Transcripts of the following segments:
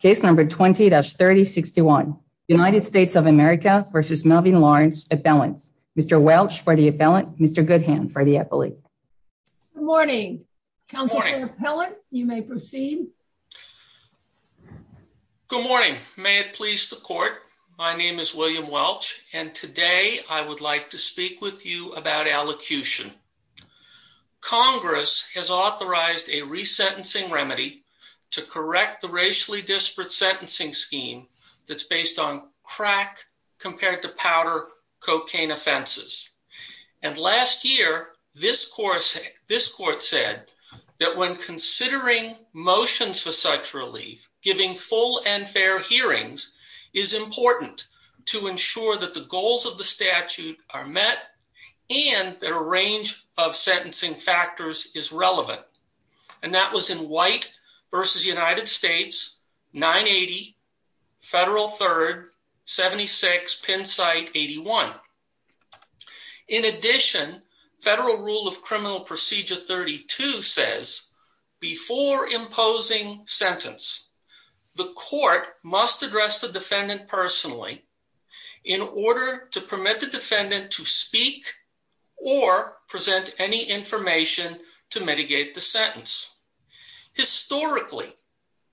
case number 20-3061 United States of America versus Melvin Lawrence appellants. Mr. Welch for the appellant, Mr. Goodhand for the appellate. Good morning. Councilor Appellant, you may proceed. Good morning. May it please the court. My name is William Welch and today I would like to speak with you about allocution. Congress has authorized a resentencing remedy to correct the racially disparate sentencing scheme that's based on crack compared to powder cocaine offenses. And last year, this course, this court said that when considering motions for such relief, giving full and fair hearings is important to ensure that the goals of the statute are met and that a range of federal rule of criminal procedure 32 says before imposing sentence, the court must address the defendant personally in order to permit the defendant to speak or present any information to mitigate the sentence. Historically,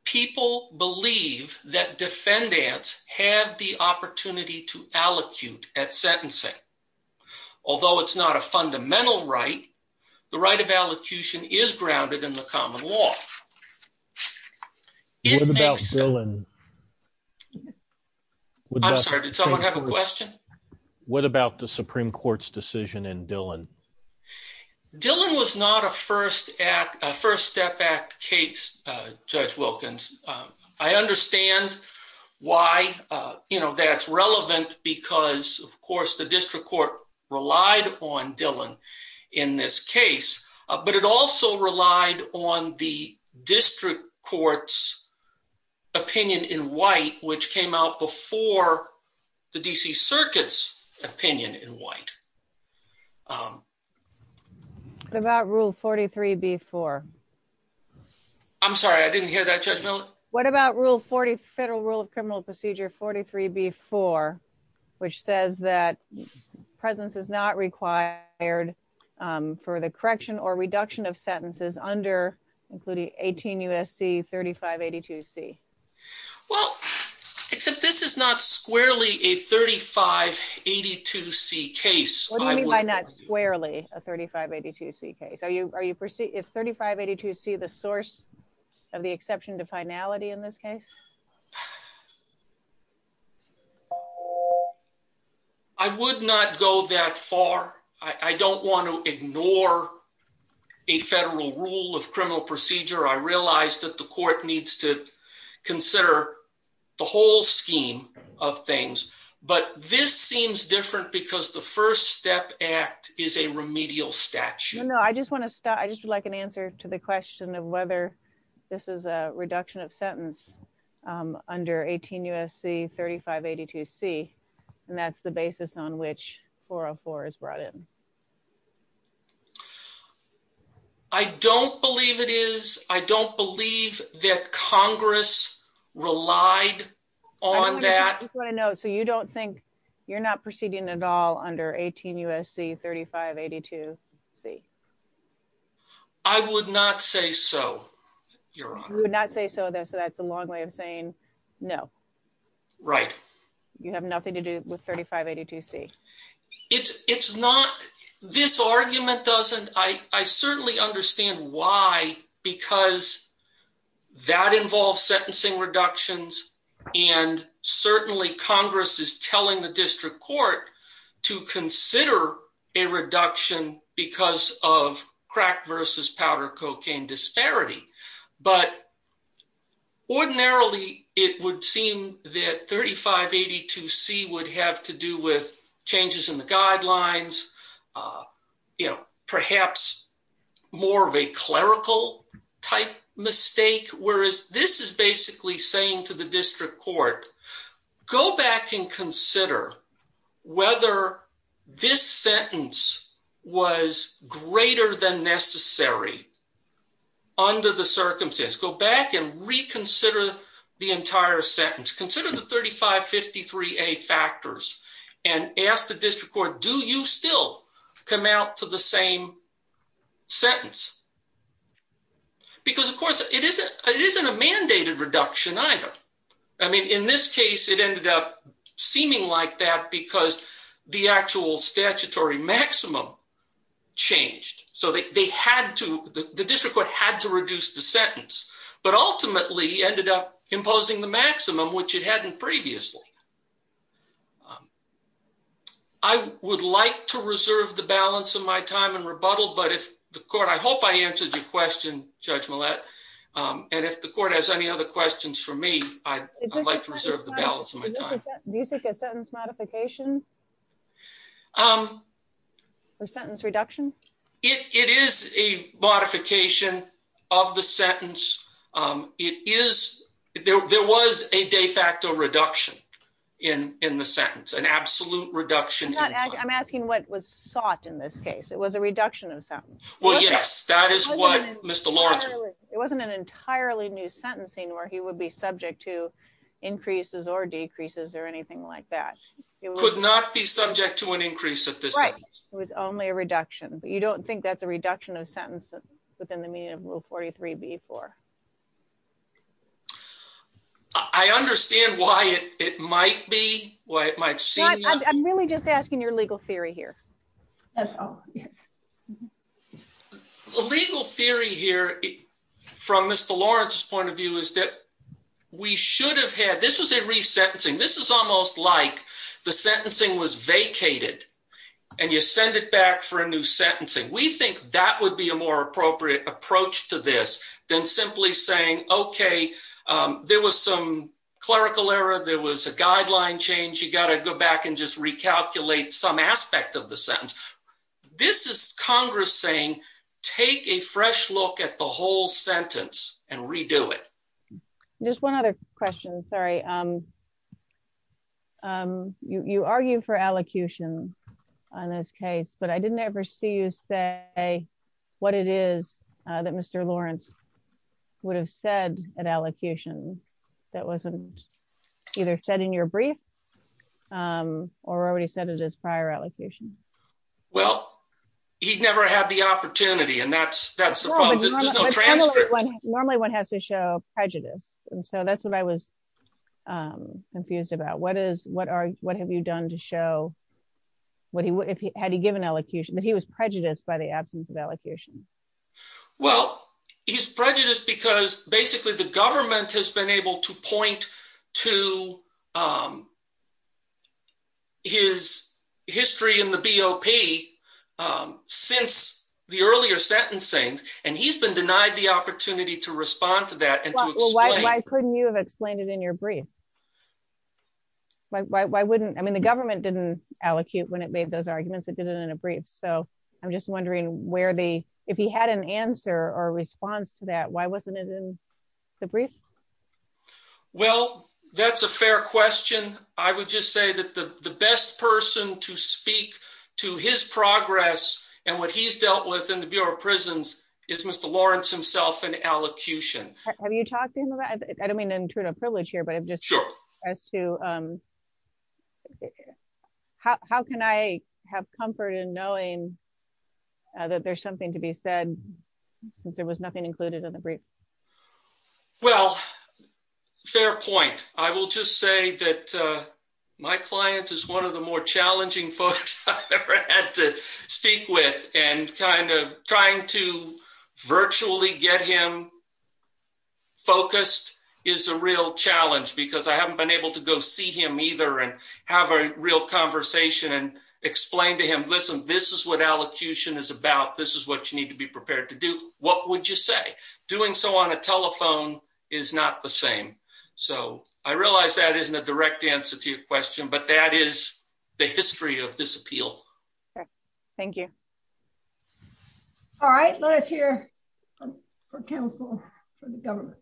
people believe that defendants have the opportunity to allocute at sentencing. Although it's not a fundamental right, the right of allocution is grounded in the common law. What about villain? Yeah, I'm sorry. Did someone have a question? What about the Supreme Court's decision in Dylan? Dylan was not a first act. First step back. Kate's Judge Wilkins. I understand why, you know, that's relevant because, of course, the district court relied on Dylan in this case, but it also relied on the district court's opinion in white, which came out before the D. C. Circuit's opinion in white. What about Rule 43 before? I'm sorry. I didn't hear that judgment. What about Rule 40 Federal Rule of Criminal Procedure 43 before, which says that presence is not required for the 35 82 C. Well, except this is not squarely a 35 82 C case. What do you mean by not squarely a 35 82 C case? Are you are you proceed? It's 35 82 C. The source of the exception to finality. In this case, I would not go that far. I don't want to ignore a federal rule of criminal procedure. I realized that the court needs to consider the whole scheme of things. But this seems different because the First Step Act is a remedial statute. No, I just want to stop. I just would like an answer to the question of whether this is a reduction of sentence under 18 U. S. C. 35 82 C. And that's the basis on which 404 is brought in. I don't believe it is. I don't believe that Congress relied on that. No. So you don't think you're not proceeding at all under 18 U. S. C. 35 82 C. I would not say so. Your honor would not say so. That's that's a long way of saying no. Right. You have nothing to do with 35 82 C. It's not. This argument doesn't. I certainly understand why. Because that involves sentencing reductions. And certainly Congress is telling the district court to consider a it would seem that 35 82 C would have to do with changes in the guidelines. Uh, you know, perhaps more of a clerical type mistake. Whereas this is basically saying to the district court, go back and consider whether this sentence was the entire sentence. Consider the 35 53 a factors and ask the district court. Do you still come out to the same sentence? Because, of course, it isn't. It isn't a mandated reduction, either. I mean, in this case, it ended up seeming like that because the actual statutory maximum changed so they had to. The district court had to reduce the sentence, but ultimately ended up imposing the maximum, which it hadn't previously. I would like to reserve the balance of my time and rebuttal. But if the court I hope I answered your question, Judge Millett. And if the court has any other questions for me, I'd like to reserve the balance of my time. You think a sentence modification? Um, sentence reduction. It is a modification off the sentence. It is. There was a de facto reduction in in the sentence, an absolute reduction. I'm asking what was sought in this case. It was a reduction of sound. Well, yes, that is what Mr Lawrence. It wasn't an entirely new sentencing where he would be subject to increases or decreases or anything like that. Could not be subject to an increase at this. It was only a reduction. But you don't think that's a reduction of sentence within the median rule 43 before. I understand why it might be why it might see. I'm really just asking your legal theory here. Oh, yes. Legal theory here from Mr Lawrence point of view is that we should have had. This was a resentencing. This is almost like the sentencing was vacated, and you send it back for a new sentencing. We think that would be a more appropriate approach to this than simply saying, Okay, there was some clerical error. There was a guideline change. You gotta go back and just recalculate some aspect of the sentence. This is Congress saying, Take a fresh look at the whole sentence and redo it. Just one other question. Sorry. Um, you argue for allocution on this case, but I didn't ever see you say what it is that Mr Lawrence would have said an allocation that wasn't either said in your brief, um, or already said it is prior allocation. Well, he never had the opportunity, and that's that's just no transcript. Normally, one has to show prejudice, and so that's what I was, um, confused about. What is what are what have you done to show what he had to give an elocution that he was prejudiced by the absence of allocution? Well, he's prejudiced because basically the government has been able to point to, um, his history in the B. O. P. Um, since the earlier sentencing, and he's been denied the opportunity to respond to that. And why couldn't you have explained it in your brief? Why? Why? Why wouldn't I mean, the government didn't allocute when it made those arguments. It didn't in a brief. So I'm just wondering where the if he had an answer or response to that. Why wasn't it in the brief? Well, that's a fair question. I would just say that the best person to speak to his progress and what he's dealt with in the Bureau of Prisons is Mr Lawrence himself in allocution. Have you talked to him about? I don't mean to intrude a privilege here, but I'm just sure as to, um, how can I have comfort in knowing that there's something to be said since there was nothing included in the brief? Well, fair point. I will just say that my client is one of the more challenging folks I've ever had to speak with, and kind of trying to virtually get him focused is a real challenge because I haven't been able to go see him either and have a real conversation and explain to him. Listen, this is what you say. Doing so on a telephone is not the same. So I realize that isn't a direct answer to your question, but that is the history of this appeal. Thank you. All right, let us hear her counsel for the government.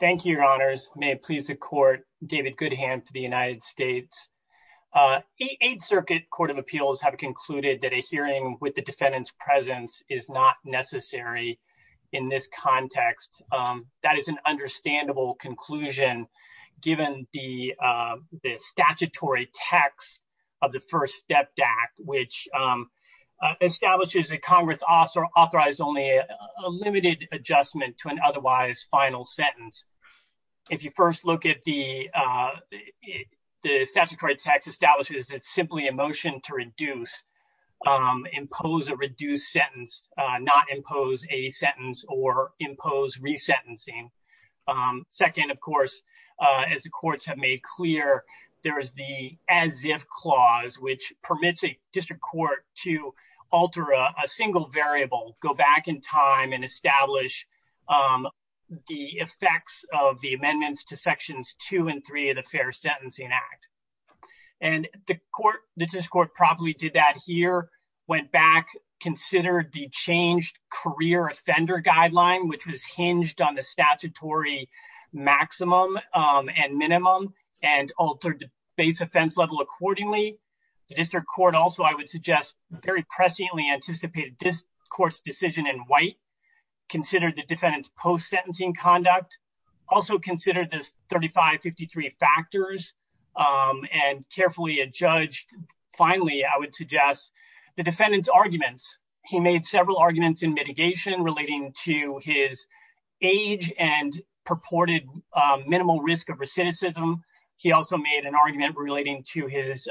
Thank you, Your Honors. May it please the court. David Good hand for the United States. Uh, eight Circuit Court of Appeals have concluded that a hearing with the defendant's presence is not necessary in this context. Um, that is an understandable conclusion, given the statutory text of the First Step Act, which, um, establishes a Congress officer authorized only a limited adjustment to an otherwise final sentence. If you first look at the, uh, the statutory text establishes that simply emotion to reduce, um, impose a reduced sentence, not impose a sentence or impose resentencing. Um, second, of course, as the courts have made clear, there is the as if clause, which permits a district court to alter a single variable, go back in time and sections two and three of the Fair Sentencing Act. And the court, the district court probably did that here, went back, considered the changed career offender guideline, which was hinged on the statutory maximum and minimum and altered base offense level. Accordingly, the district court. Also, I would suggest very presciently anticipated this court's decision in white considered the defendant's post sentencing conduct. Also considered this 35 53 factors. Um, and carefully adjudged. Finally, I would suggest the defendant's arguments. He made several arguments in mitigation relating to his age and purported minimal risk of recidivism. He also made an argument relating to his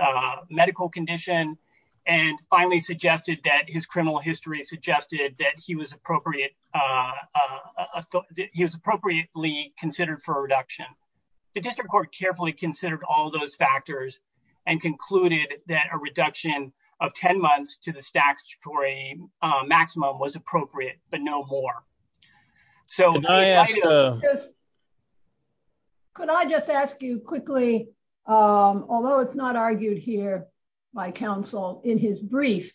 medical condition and finally suggested that his criminal history suggested that he was appropriate. Uh, he was appropriately considered for reduction. The district court carefully considered all those factors and concluded that a reduction of 10 months to the statutory maximum was appropriate, but no more. So, uh, could I just ask you quickly? Um, although it's not argued here by counsel in his brief,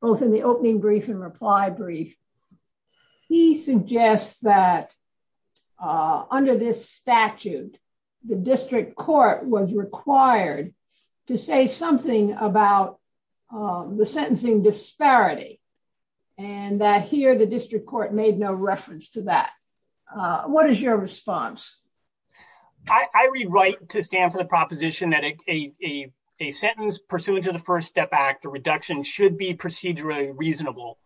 both in the opening brief and reply brief, he suggests that, uh, under this statute, the district court was required to say something about, uh, the sentencing disparity and that here the district court made no reference to that. Uh, what is your response? I rewrite to the proposition that a sentence pursuant to the first step back to reduction should be procedurally reasonable.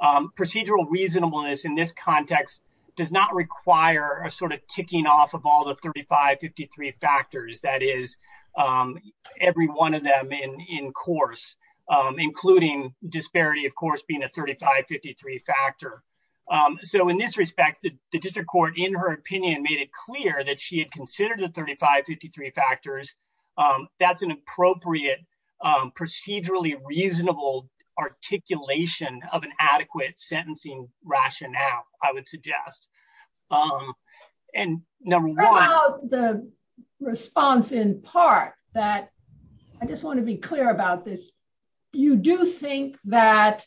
Um, procedural reasonableness in this context does not require a sort of ticking off of all the 35 53 factors. That is, um, every one of them in course, including disparity, of course, being a 35 53 factor. Um, so in this respect, the district court, in her factors, um, that's an appropriate, um, procedurally reasonable articulation of an adequate sentencing rationale, I would suggest. Um, and number one, the response in part that I just want to be clear about this. You do think that,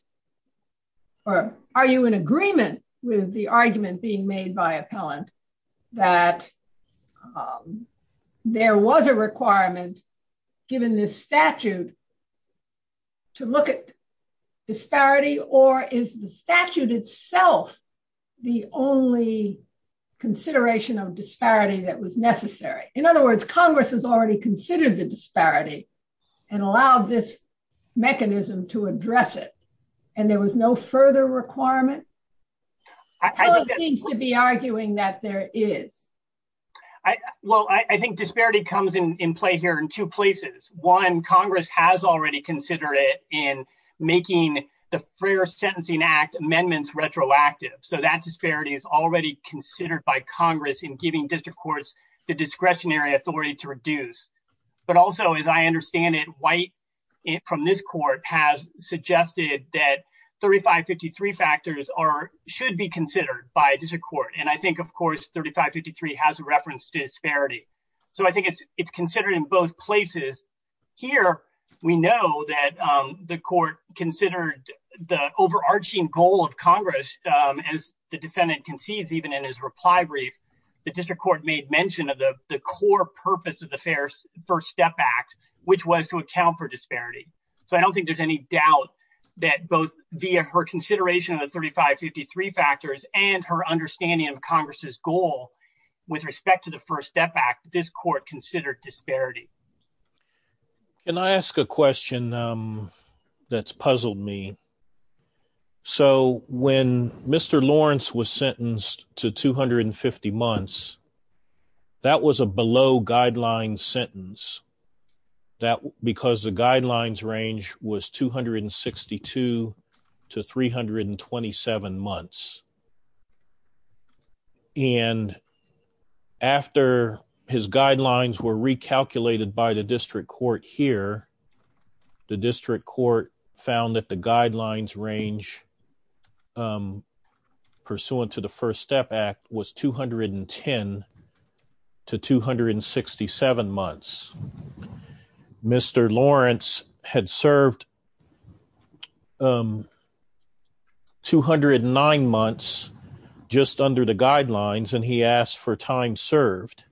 or are you in agreement with the argument being made by appellant that, um, there was a requirement given this statute to look at disparity? Or is the statute itself the only consideration of disparity that was necessary? In other words, Congress has already considered the disparity and allowed this mechanism to address it. And there was no further requirement. I need to be arguing that there is. Well, I think disparity comes in play here in two places. One Congress has already considered it in making the fair Sentencing Act amendments retroactive. So that disparity is already considered by Congress in giving district courts the discretionary authority to reduce. But also, as I understand it, white from this court has suggested that 35 53 factors are should be considered by a district court. And I think, of course, 35 53 has a reference to disparity. So I think it's it's considered in both places here. We know that the court considered the overarching goal of Congress. Um, as the defendant concedes, even in his reply brief, the district court made mention of the core purpose of the fair First Step Act, which was to account for disparity. So I don't think there's any doubt that both via her consideration of the 35 53 factors and her understanding of Congress's goal with respect to the First Step Act, this court considered disparity. Can I ask a question? Um, that's puzzled me. So when Mr Lawrence was sentenced to 250 months, that was a below guidelines range was 262 to 327 months. And after his guidelines were recalculated by the district court here, the district court found that the guidelines range, um, pursuant to the had served um, 209 months just under the guidelines, and he asked for time served.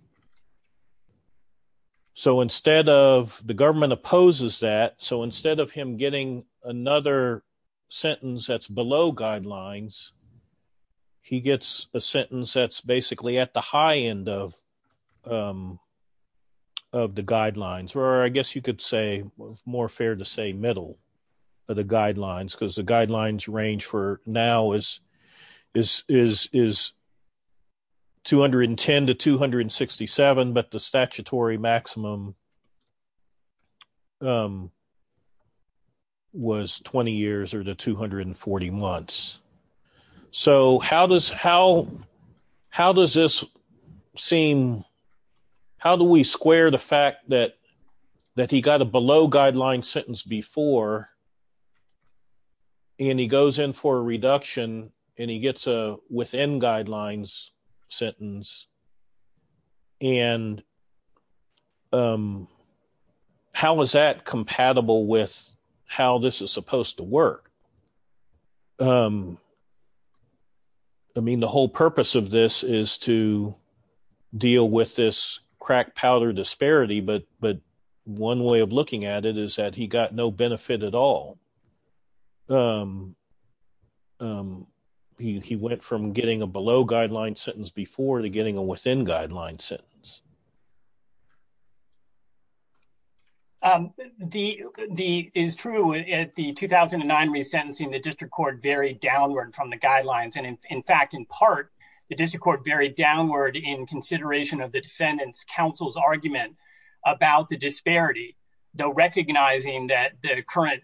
So instead of the government opposes that so instead of him getting another sentence that's below guidelines, he gets a sentence that's basically at the high end of, um, of the guidelines, or I guess you could say more fair to say middle of the guidelines because the guidelines range for now is is is is 210 to 267. But the statutory maximum was 20 years or the 240 months. So how does how how does this seem? How do we square the fact that that he got a below guidelines sentence before and he goes in for a reduction and he gets a within guidelines sentence and how is that compatible with how this is supposed to work? I mean, the whole purpose of this is to deal with this crack powder disparity, but but one way of looking at it is that he got no benefit at all. He went from getting a below guidelines sentence before to getting a within guidelines sentence. The the is true at the 2009 resentencing the district court very downward from the guidelines. And in fact, in part, the district court very downward in consideration of the defendant's counsel's argument about the disparity, though, recognizing that the current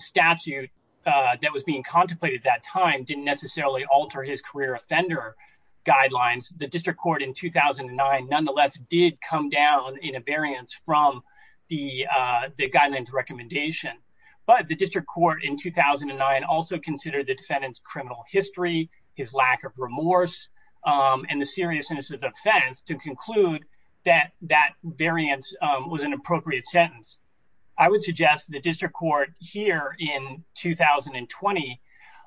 statute that was being contemplated that time didn't necessarily alter his career offender guidelines. The district court in 2009, nonetheless, did come down in a variance from the guidelines recommendation, but the district court in 2009 also considered the defendant's criminal history, his lack of remorse, and the seriousness of offense to conclude that that variance was an appropriate sentence. I would suggest the district court here in 2020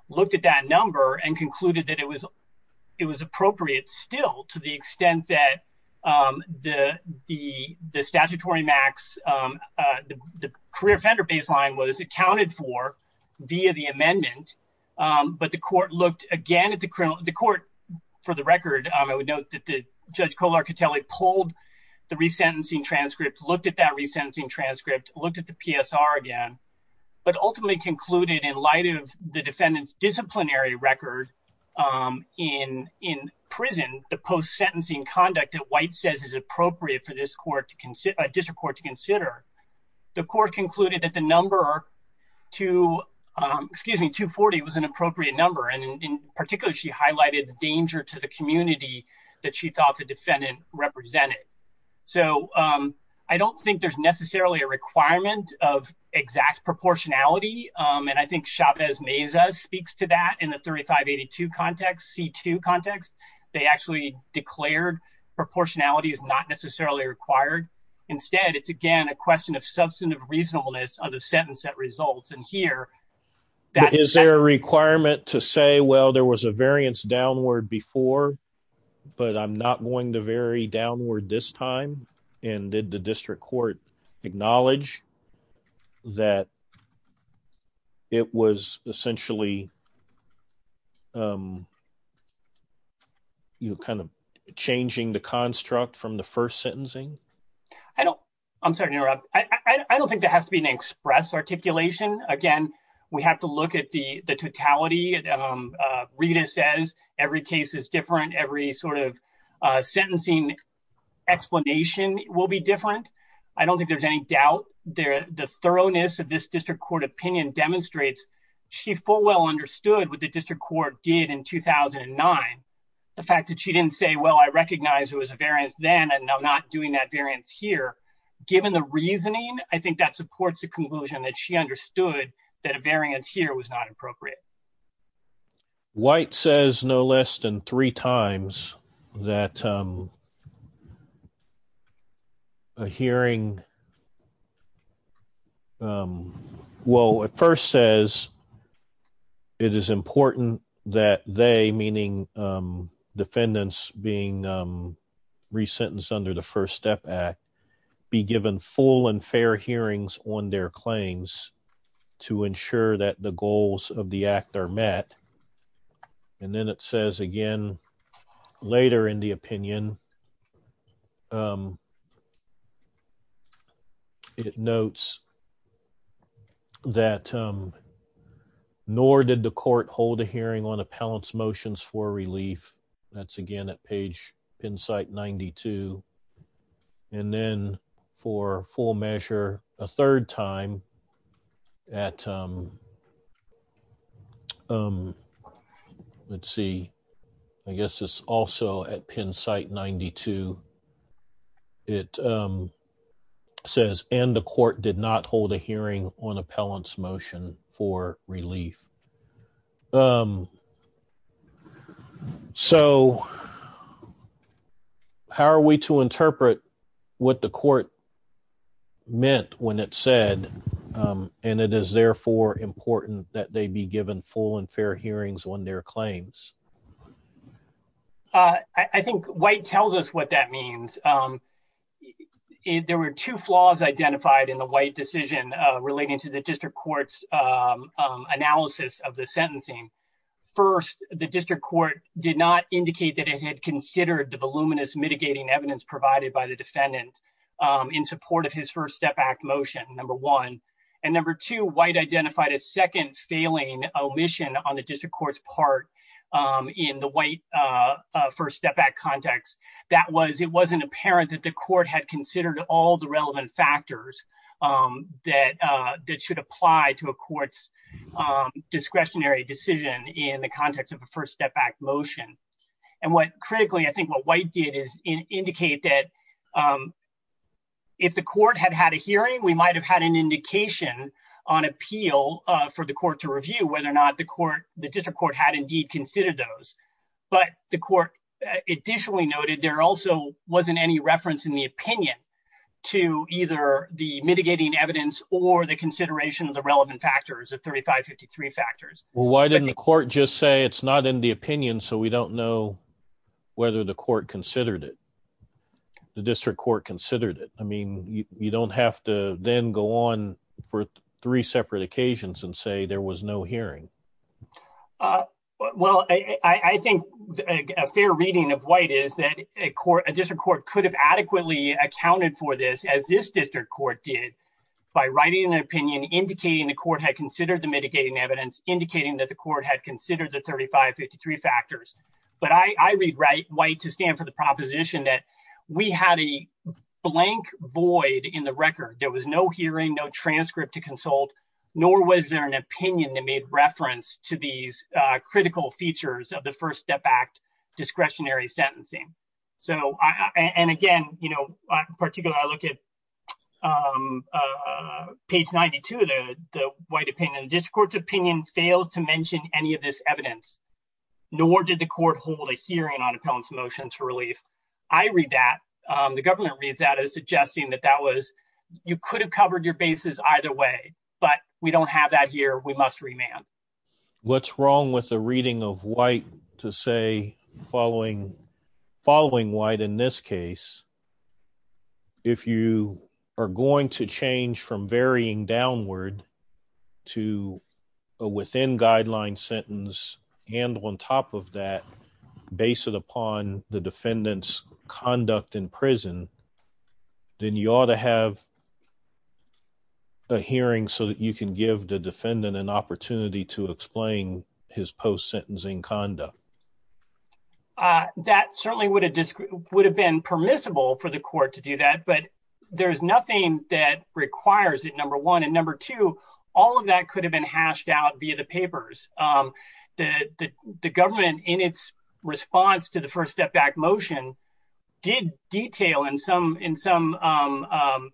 looked at that number and concluded that it was it was appropriate still to the extent that the the statutory max the career offender baseline was accounted for via the court looked again at the criminal the court for the record. I would note that the judge Kolar Catelli pulled the resentencing transcript looked at that resentencing transcript looked at the PSR again, but ultimately concluded in light of the defendant's disciplinary record in in prison the post sentencing conduct at White says is appropriate for this court to consider a district court to consider the court concluded that the number to excuse me 240 was an appropriate number and in particular she highlighted the danger to the community that she thought the defendant represented. So I don't think there's necessarily a requirement of exact proportionality and I think Chavez Mesa speaks to that in the 3582 context C2 context. They actually declared proportionality is not necessarily required instead. It's again a question of substantive reasonableness of the sentence that results in here that is there a requirement to say well there was a variance downward before but I'm not going to vary downward this time and did the district court acknowledge that it was essentially you kind of changing the construct from the first sentencing. I don't I'm sorry to interrupt. I don't think there has to be an express articulation again. We have to look at the the totality Rita says every case is different every sort of sentencing explanation will be different. I don't think there's any doubt there the thoroughness of this district court opinion demonstrates she full well understood with the district court did in 2009 the fact that she didn't say well, I recognize it was a variance then not doing that variance here given the reasoning. I think that supports the conclusion that she understood that a variance here was not appropriate. White says no less than three times that a hearing well at first says it is important that they meaning defendants being resentenced under the First Step Act be given full and fair hearings on their claims to ensure that the goals of the act are met and then it says again later in the opinion it notes that nor did the court hold a hearing on appellants motions for relief that's again at page Penn site 92 and then for full measure a third time at let's see I guess it's also at Penn site 92 it says and the court did not hold a hearing on appellants motion for relief. So how are we to interpret what the court meant when it said and it is therefore important that they be given full and fair hearings on their claims. I think white tells us what that means. I think what the court was not aware of it was not aware that the courts analysis of the sentencing first the district court did not indicate that it had considered the voluminous mitigating evidence provided by the defendant in support of his First Step Act motion. Number one and number two white identified a second failing omission on the district court's part in the white side to a court's discretionary decision in the context of a First Step Act motion and what critically I think what white did is indicate that if the court had had a hearing we might have had an indication on appeal for the court to review whether or not the court the district court had indeed considered those but the court additionally noted there also wasn't any reference in the opinion to either the mitigating evidence or the consideration of the relevant factors of 3553 factors. Well, why didn't the court just say it's not in the opinion. So we don't know whether the court considered it the district court considered it. I mean, you don't have to then go on for three separate occasions and say there was no hearing. Well, I think a fair reading of white is that a court a district court could have adequately accounted for this as this district court did by writing an opinion indicating the court had considered the mitigating evidence indicating that the court had considered the 3553 factors, but I read right white to stand for the proposition that we had a blank void in the record. There was no hearing no transcript to consult nor was there an opinion that made reference to these critical features of the First Step Act discretionary sentencing. So I and again, you know, particularly I look at page 92 of the white opinion district court's opinion fails to mention any of this evidence nor did the court hold a hearing on appellants motions for relief. I read that the government reads out as suggesting that that was you could have covered your bases either way, but we don't have that here. We must remand. What's wrong with the reading of white to say following following white in this case. If you are going to change from varying downward to within guideline sentence and on top of that base it upon the defendants conduct in prison. Then you ought to have a hearing so that you can give the defendant an opportunity to explain his post sentencing conduct. That certainly would have just would have been permissible for the court to do that. But there's nothing that requires it. Number one and number two, all of that could have been hashed out via the papers that the government in its response to the First Step Act motion did detail in some in some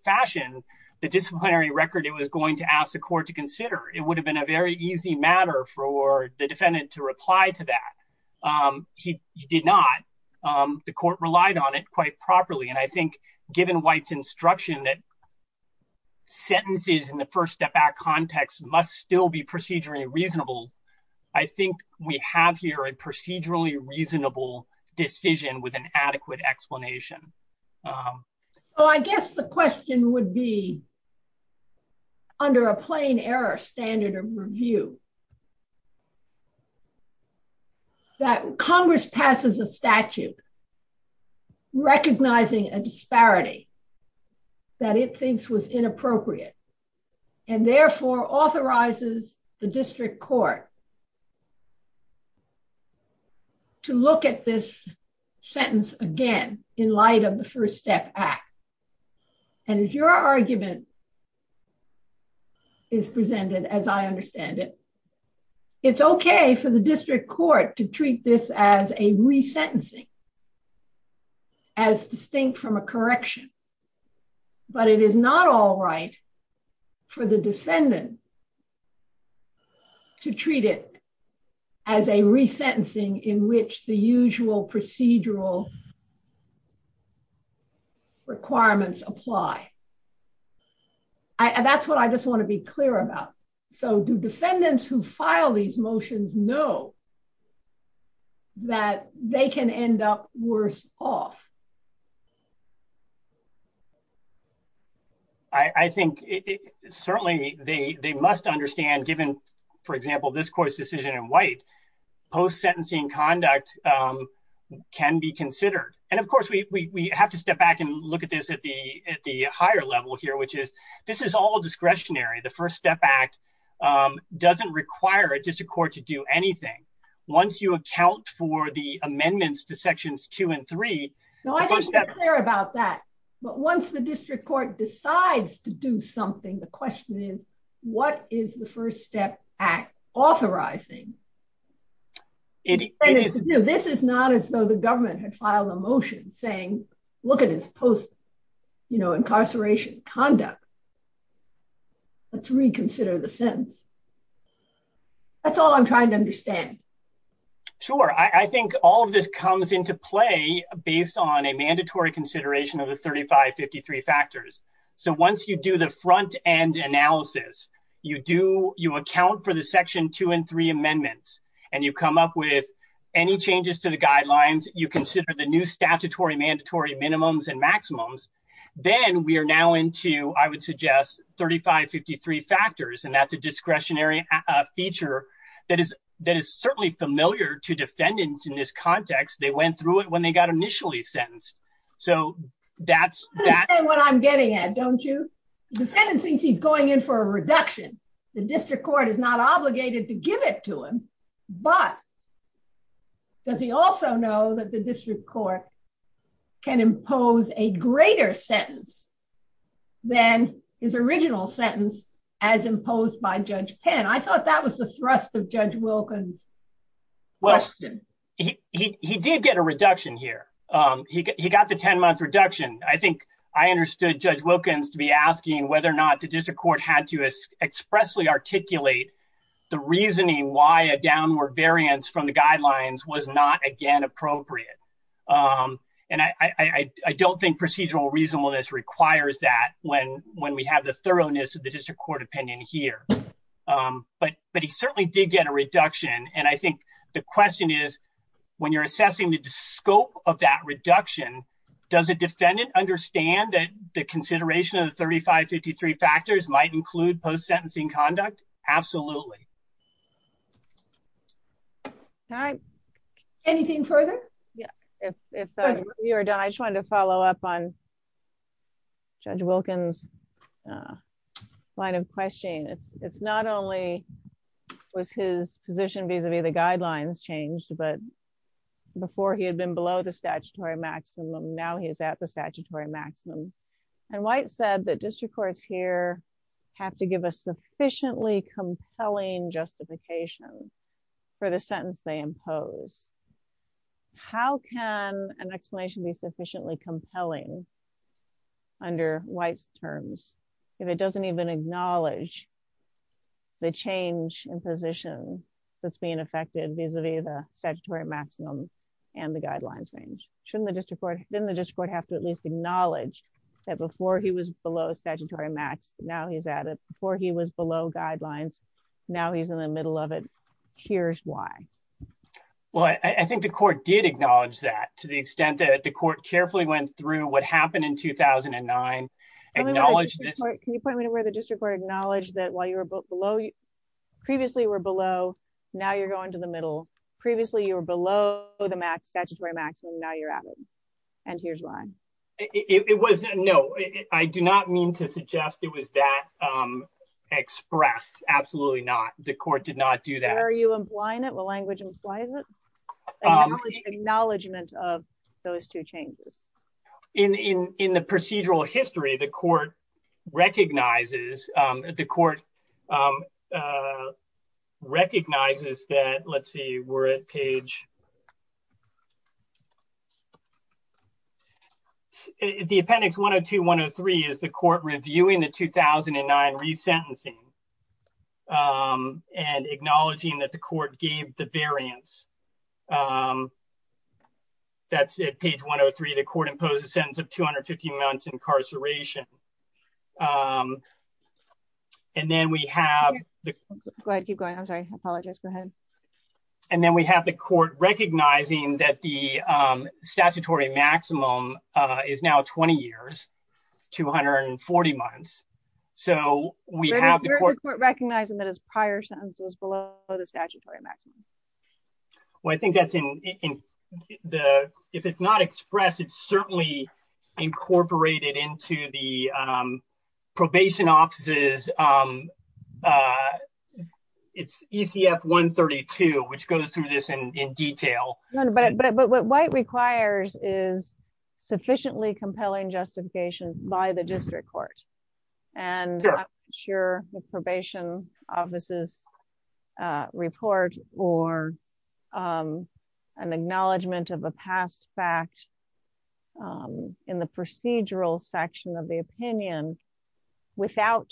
fashion the disciplinary record. It was going to ask the court to consider it would have been a very easy matter for the defendant to reply to that. He did not the court relied on it quite properly. And I think given White's instruction that sentences in the First Step Act context must still be procedurally reasonable. I think we have here a procedurally reasonable decision with an adequate explanation. under a plain error standard of review that Congress passes a statute recognizing a disparity that it thinks was inappropriate and therefore authorizes the district court to look at this sentence again in light of the First Step Act. And if your argument is presented as I understand it, it's okay for the district court to treat this as a resentencing as distinct from a correction. But it is not all right for the defendant to treat it as a resentencing in which the usual procedural requirements apply. And that's what I just want to be clear about. So do defendants who file these motions know that they can end up worse off? I think certainly they must understand given for example, this court's decision in White post sentencing conduct can be considered. And of course we have to step back and look at this at the higher level here, which is this is all discretionary. The First Step Act doesn't require a district court to do anything. Once you account for the amendments to sections two and three. No, I think you're clear about that. But once the district court decides to do something, the question is what is the First Step Act authorizing? This is not as though the government had filed a motion saying, look at his post incarceration conduct. To reconsider the sentence. That's all I'm trying to understand. Sure. I think all of this comes into play based on a mandatory consideration of the 3553 factors. So once you do the front-end analysis, you do, you account for the section two and three amendments and you come up with any changes to the guidelines, you consider the new statutory mandatory minimums and maximums. Then we are now into, I would suggest, 3553 factors and that's a discretionary feature that is certainly familiar to defendants in this context. They went through it when they got initially sentenced. So that's... You understand what I'm getting at, don't you? The defendant thinks he's going in for a reduction. The district court is not obligated to give it to him. But does he also know that the district court can impose a greater sentence than his original sentence as imposed by Judge Penn? I thought that was the thrust of Judge Wilkins' question. He did get a reduction here. He got the 10-month reduction. I think I understood Judge Wilkins to be asking whether or not the district court had to expressly articulate the reasoning why a downward variance from the guidelines was not again appropriate. And I don't think procedural reasonableness requires that when we have the thoroughness of the district court opinion here. But he certainly did get a reduction. And I think the question is, when you're assessing the scope of that reduction, does a defendant understand that the consideration of the 3553 factors might include post-sentencing conduct? Absolutely. Anything further? Yeah, if you're done. I just wanted to follow up on Judge Wilkins' line of questioning. It's not only was his position vis-a-vis the guidelines changed, but before he had been below the statutory maximum. Now he is at the statutory maximum. And White said that district courts here have to give a sufficiently compelling justification for the sentence they impose. How can an explanation be sufficiently compelling under White's terms if it doesn't even acknowledge the change in position that's being affected vis-a-vis the statutory maximum and the guidelines range? Shouldn't the district court, didn't the district court have to at least acknowledge that before he was below statutory max, now he's at it. Before he was below guidelines, now he's in the middle of it. Here's why. Well, I think the court did acknowledge that to the extent that the court carefully went through what happened in 2009. Acknowledge this. Can you point me to where the district court acknowledged that while you were below, previously were below, now you're going to the middle. Previously, you were below the statutory maximum. Now you're at it. And here's why. It was, no, I do not mean to suggest it was that express. Absolutely not. The court did not do that. Are you implying it? The language implies it? Acknowledgement of those two changes. In the procedural history, the court recognizes, the court recognizes that, let's see, we're at page... The appendix 102-103 is the court reviewing the 2009 resentencing and acknowledging that the court gave the variance. That's it, page 103. The court imposed a sentence of 250 months incarceration. And then we have the... Go ahead, keep going. I'm sorry. I apologize. Go ahead. And then we have the court recognizing that the statutory maximum is now 20 years, 240 months. So we have the court recognizing that. We have the court recognizing that his prior sentence was below the statutory maximum. Well, I think that's in the, if it's not expressed, it's certainly incorporated into the probation offices. It's ECF 132, which goes through this in detail. No, but what White requires is sufficiently compelling justification by the district court. And I'm not sure the probation offices report or an acknowledgement of a past fact in the procedural section of the opinion without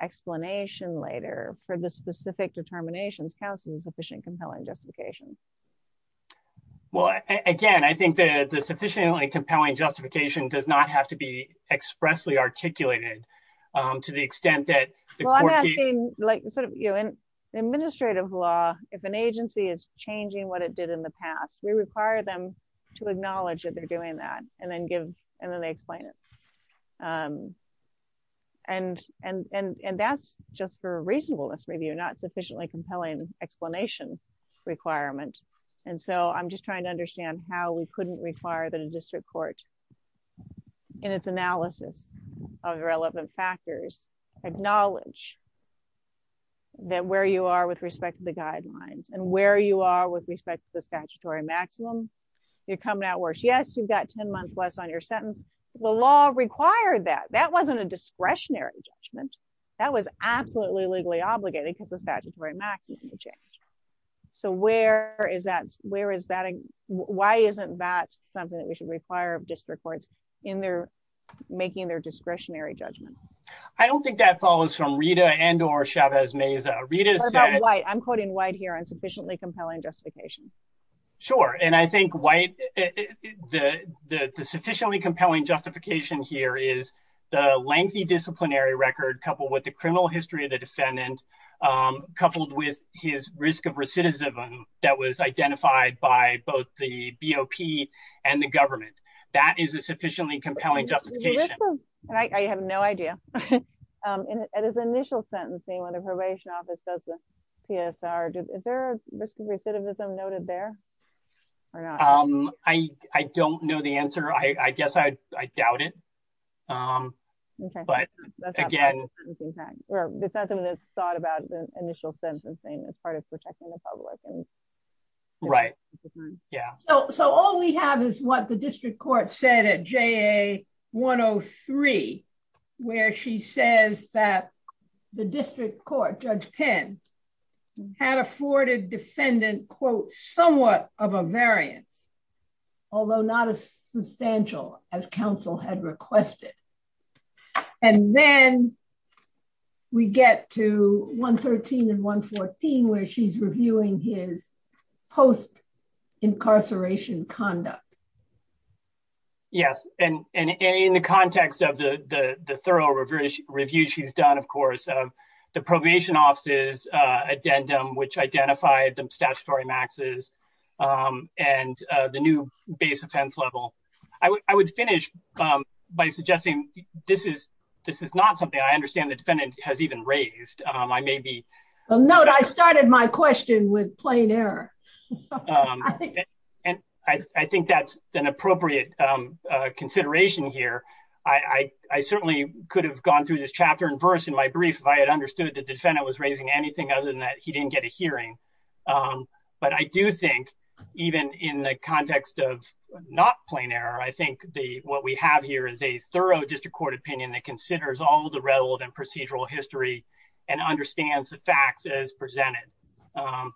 explanation later for the specific determinations counts as sufficient compelling justification. Well, again, I think that the sufficiently compelling justification does not have to be expressly articulated to the extent that the court. Well, I'm asking, like, sort of, you know, in administrative law, if an agency is changing what it did in the past, we require them to acknowledge that they're doing that and then give, and then they explain it. And that's just for reasonableness review, not sufficiently compelling explanation requirement. And so I'm just trying to understand how we couldn't require that a district court in its analysis of relevant factors, acknowledge that where you are with respect to the guidelines and where you are with respect to the statutory maximum, you're coming out worse. Yes, you've got 10 months less on your sentence. The law required that. That wasn't a discretionary judgment. That was absolutely legally obligated because the statutory maximum changed. So where is that? Where is that? Why isn't that something that we should require of district courts in their making their discretionary judgment? I don't think that follows from Rita and or Chavez-Meza. Rita said- What about White? I'm quoting White here on sufficiently compelling justification. Sure. And I think White, the sufficiently compelling justification here is the lengthy disciplinary record coupled with the criminal history of the defendant, coupled with his risk of recidivism that was identified by both the BOP and the government. That is a sufficiently compelling justification. I have no idea. At his initial sentencing when the probation office does the PSR, is there a risk of recidivism noted there? I don't know the answer. I guess I doubt it. But again- It's not something that's thought about the initial sentencing as part of protecting the public. Right. Yeah. So all we have is what the district court said at JA-103 where she says that the district court, Judge Penn, had afforded defendant, quote, somewhat of a variance, although not as substantial as counsel had requested. And then we get to 113 and 114 where she's reviewing his post-incarceration conduct. Yes, and in the context of the thorough review she's done, of course, of the probation office's addendum which identified the statutory maxes and the new base offense level. I would finish by suggesting this is not something I understand the defendant has even raised. I may be- Note, I started my question with plain error. I think that's an appropriate consideration here. I certainly could have gone through this chapter and verse in my brief if I had understood that the defendant was raising anything other than that he didn't get a hearing. But I do think even in the context of not plain error, I think what we have here is a thorough district court opinion that considers all the relevant procedural history and understands the facts as presented.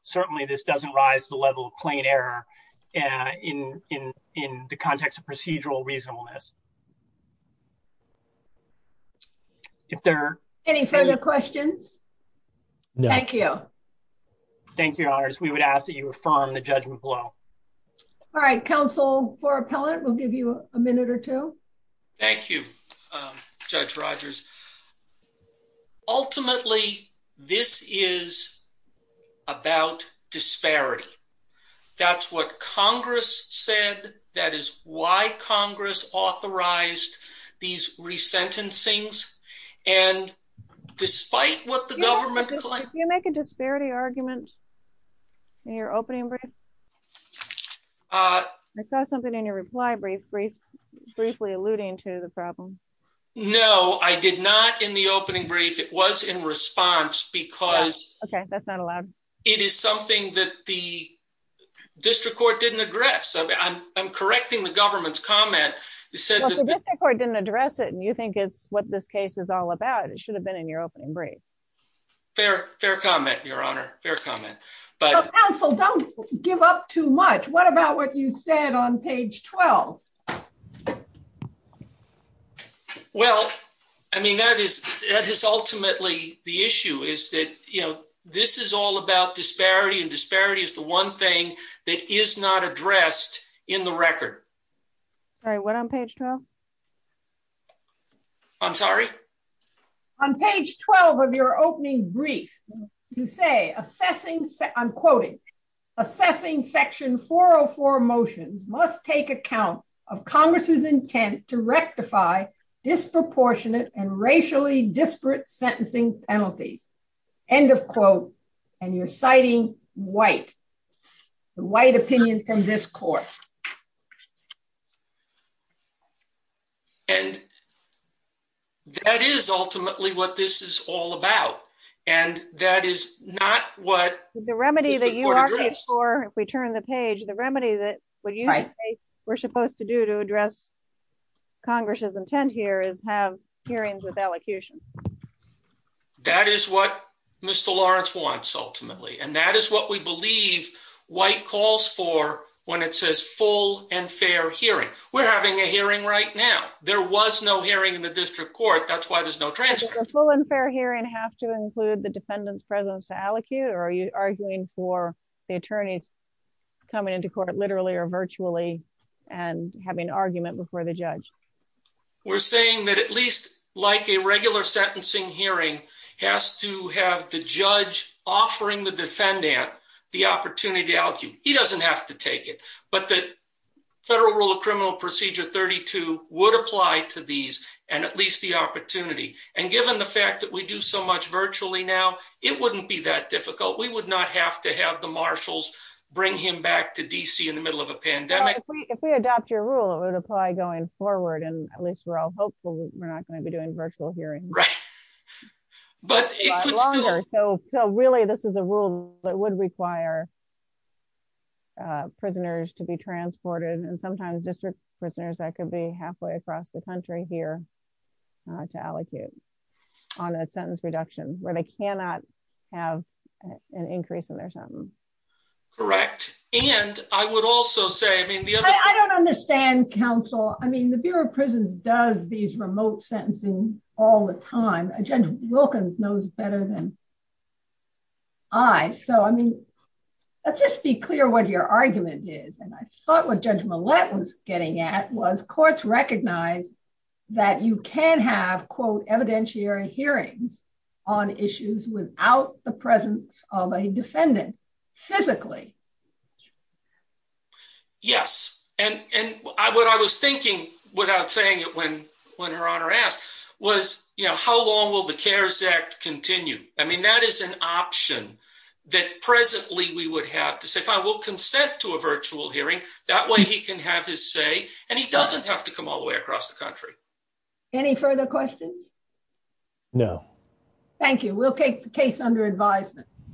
Certainly, this doesn't rise to the level of plain error in the context of procedural reasonableness. If there- Any further questions? Thank you. Thank you, Your Honors. We would ask that you affirm the judgment below. All right, counsel for appellant. We'll give you a minute or two. Thank you, Judge Rogers. Ultimately, this is about disparity. That's what Congress said. That is why Congress authorized these resentencings and despite what the government- Did you make a disparity argument in your opening brief? I saw something in your reply brief briefly alluding to the problem. No, I did not in the opening brief. It was in response because- Okay, that's not allowed. It is something that the district court didn't address. I'm correcting the government's comment. They said- Well, the district court didn't address it and you think it's what this case is all about. It should have been in your opening brief. Fair comment, Your Honor. Fair comment. Counsel, don't give up too much. What about what you said on page 12? Well, I mean, that is ultimately the issue is that, you know, this is all about disparity and disparity is the one thing that is not addressed in the record. Sorry, what on page 12? I'm sorry? On page 12 of your opening brief, you say, I'm quoting, assessing section 404 motions must take account of disproportionate and racially disparate sentencing penalties. End of quote. And you're citing White, the White opinion from this court. And that is ultimately what this is all about. And that is not what- The remedy that you argued for, if we turn the page, the remedy that what you say we're supposed to do to address Congress's intent here is have hearings with elocution. That is what Mr. Lawrence wants, ultimately, and that is what we believe White calls for when it says full and fair hearing. We're having a hearing right now. There was no hearing in the district court. That's why there's no transcript. Does a full and fair hearing have to include the defendant's presence to elocute? Or are you arguing for the attorneys coming into court literally or virtually and having an argument before the judge? We're saying that at least like a regular sentencing hearing has to have the judge offering the defendant the opportunity to elocute. He doesn't have to take it, but the Federal Rule of Criminal Procedure 32 would apply to these and at least the opportunity. And given the fact that we do so much virtually now, it wouldn't be that difficult. We would not have to have the marshals bring him back to DC in the middle of a pandemic. If we adopt your rule, it would apply going forward and at least we're all hopeful we're not going to be doing virtual hearing. Right. But it could be longer. So really this is a rule that would require prisoners to be transported and sometimes district prisoners that could be halfway across the country here to elocute on a sentence reduction where they cannot have an increase in their sentence. Correct. And I would also say I don't understand counsel. I mean the Bureau of Prisons does these remote sentencing all the time agenda Wilkins knows better than I so I mean let's just be clear what your argument is and I thought what Judge Millett was getting at was courts recognize that you can have quote evidentiary hearings on issues without the presence of a defendant. Physically. Yes, and and I what I was thinking without saying it when when her honor asked was, you know, how long will the CARES Act continue? I mean that is an option that presently we would have to say fine. We'll consent to a virtual hearing that way. He can have his say and he doesn't have to come all the way across the country. Any further questions? No. Thank you. We'll take the case under advisement.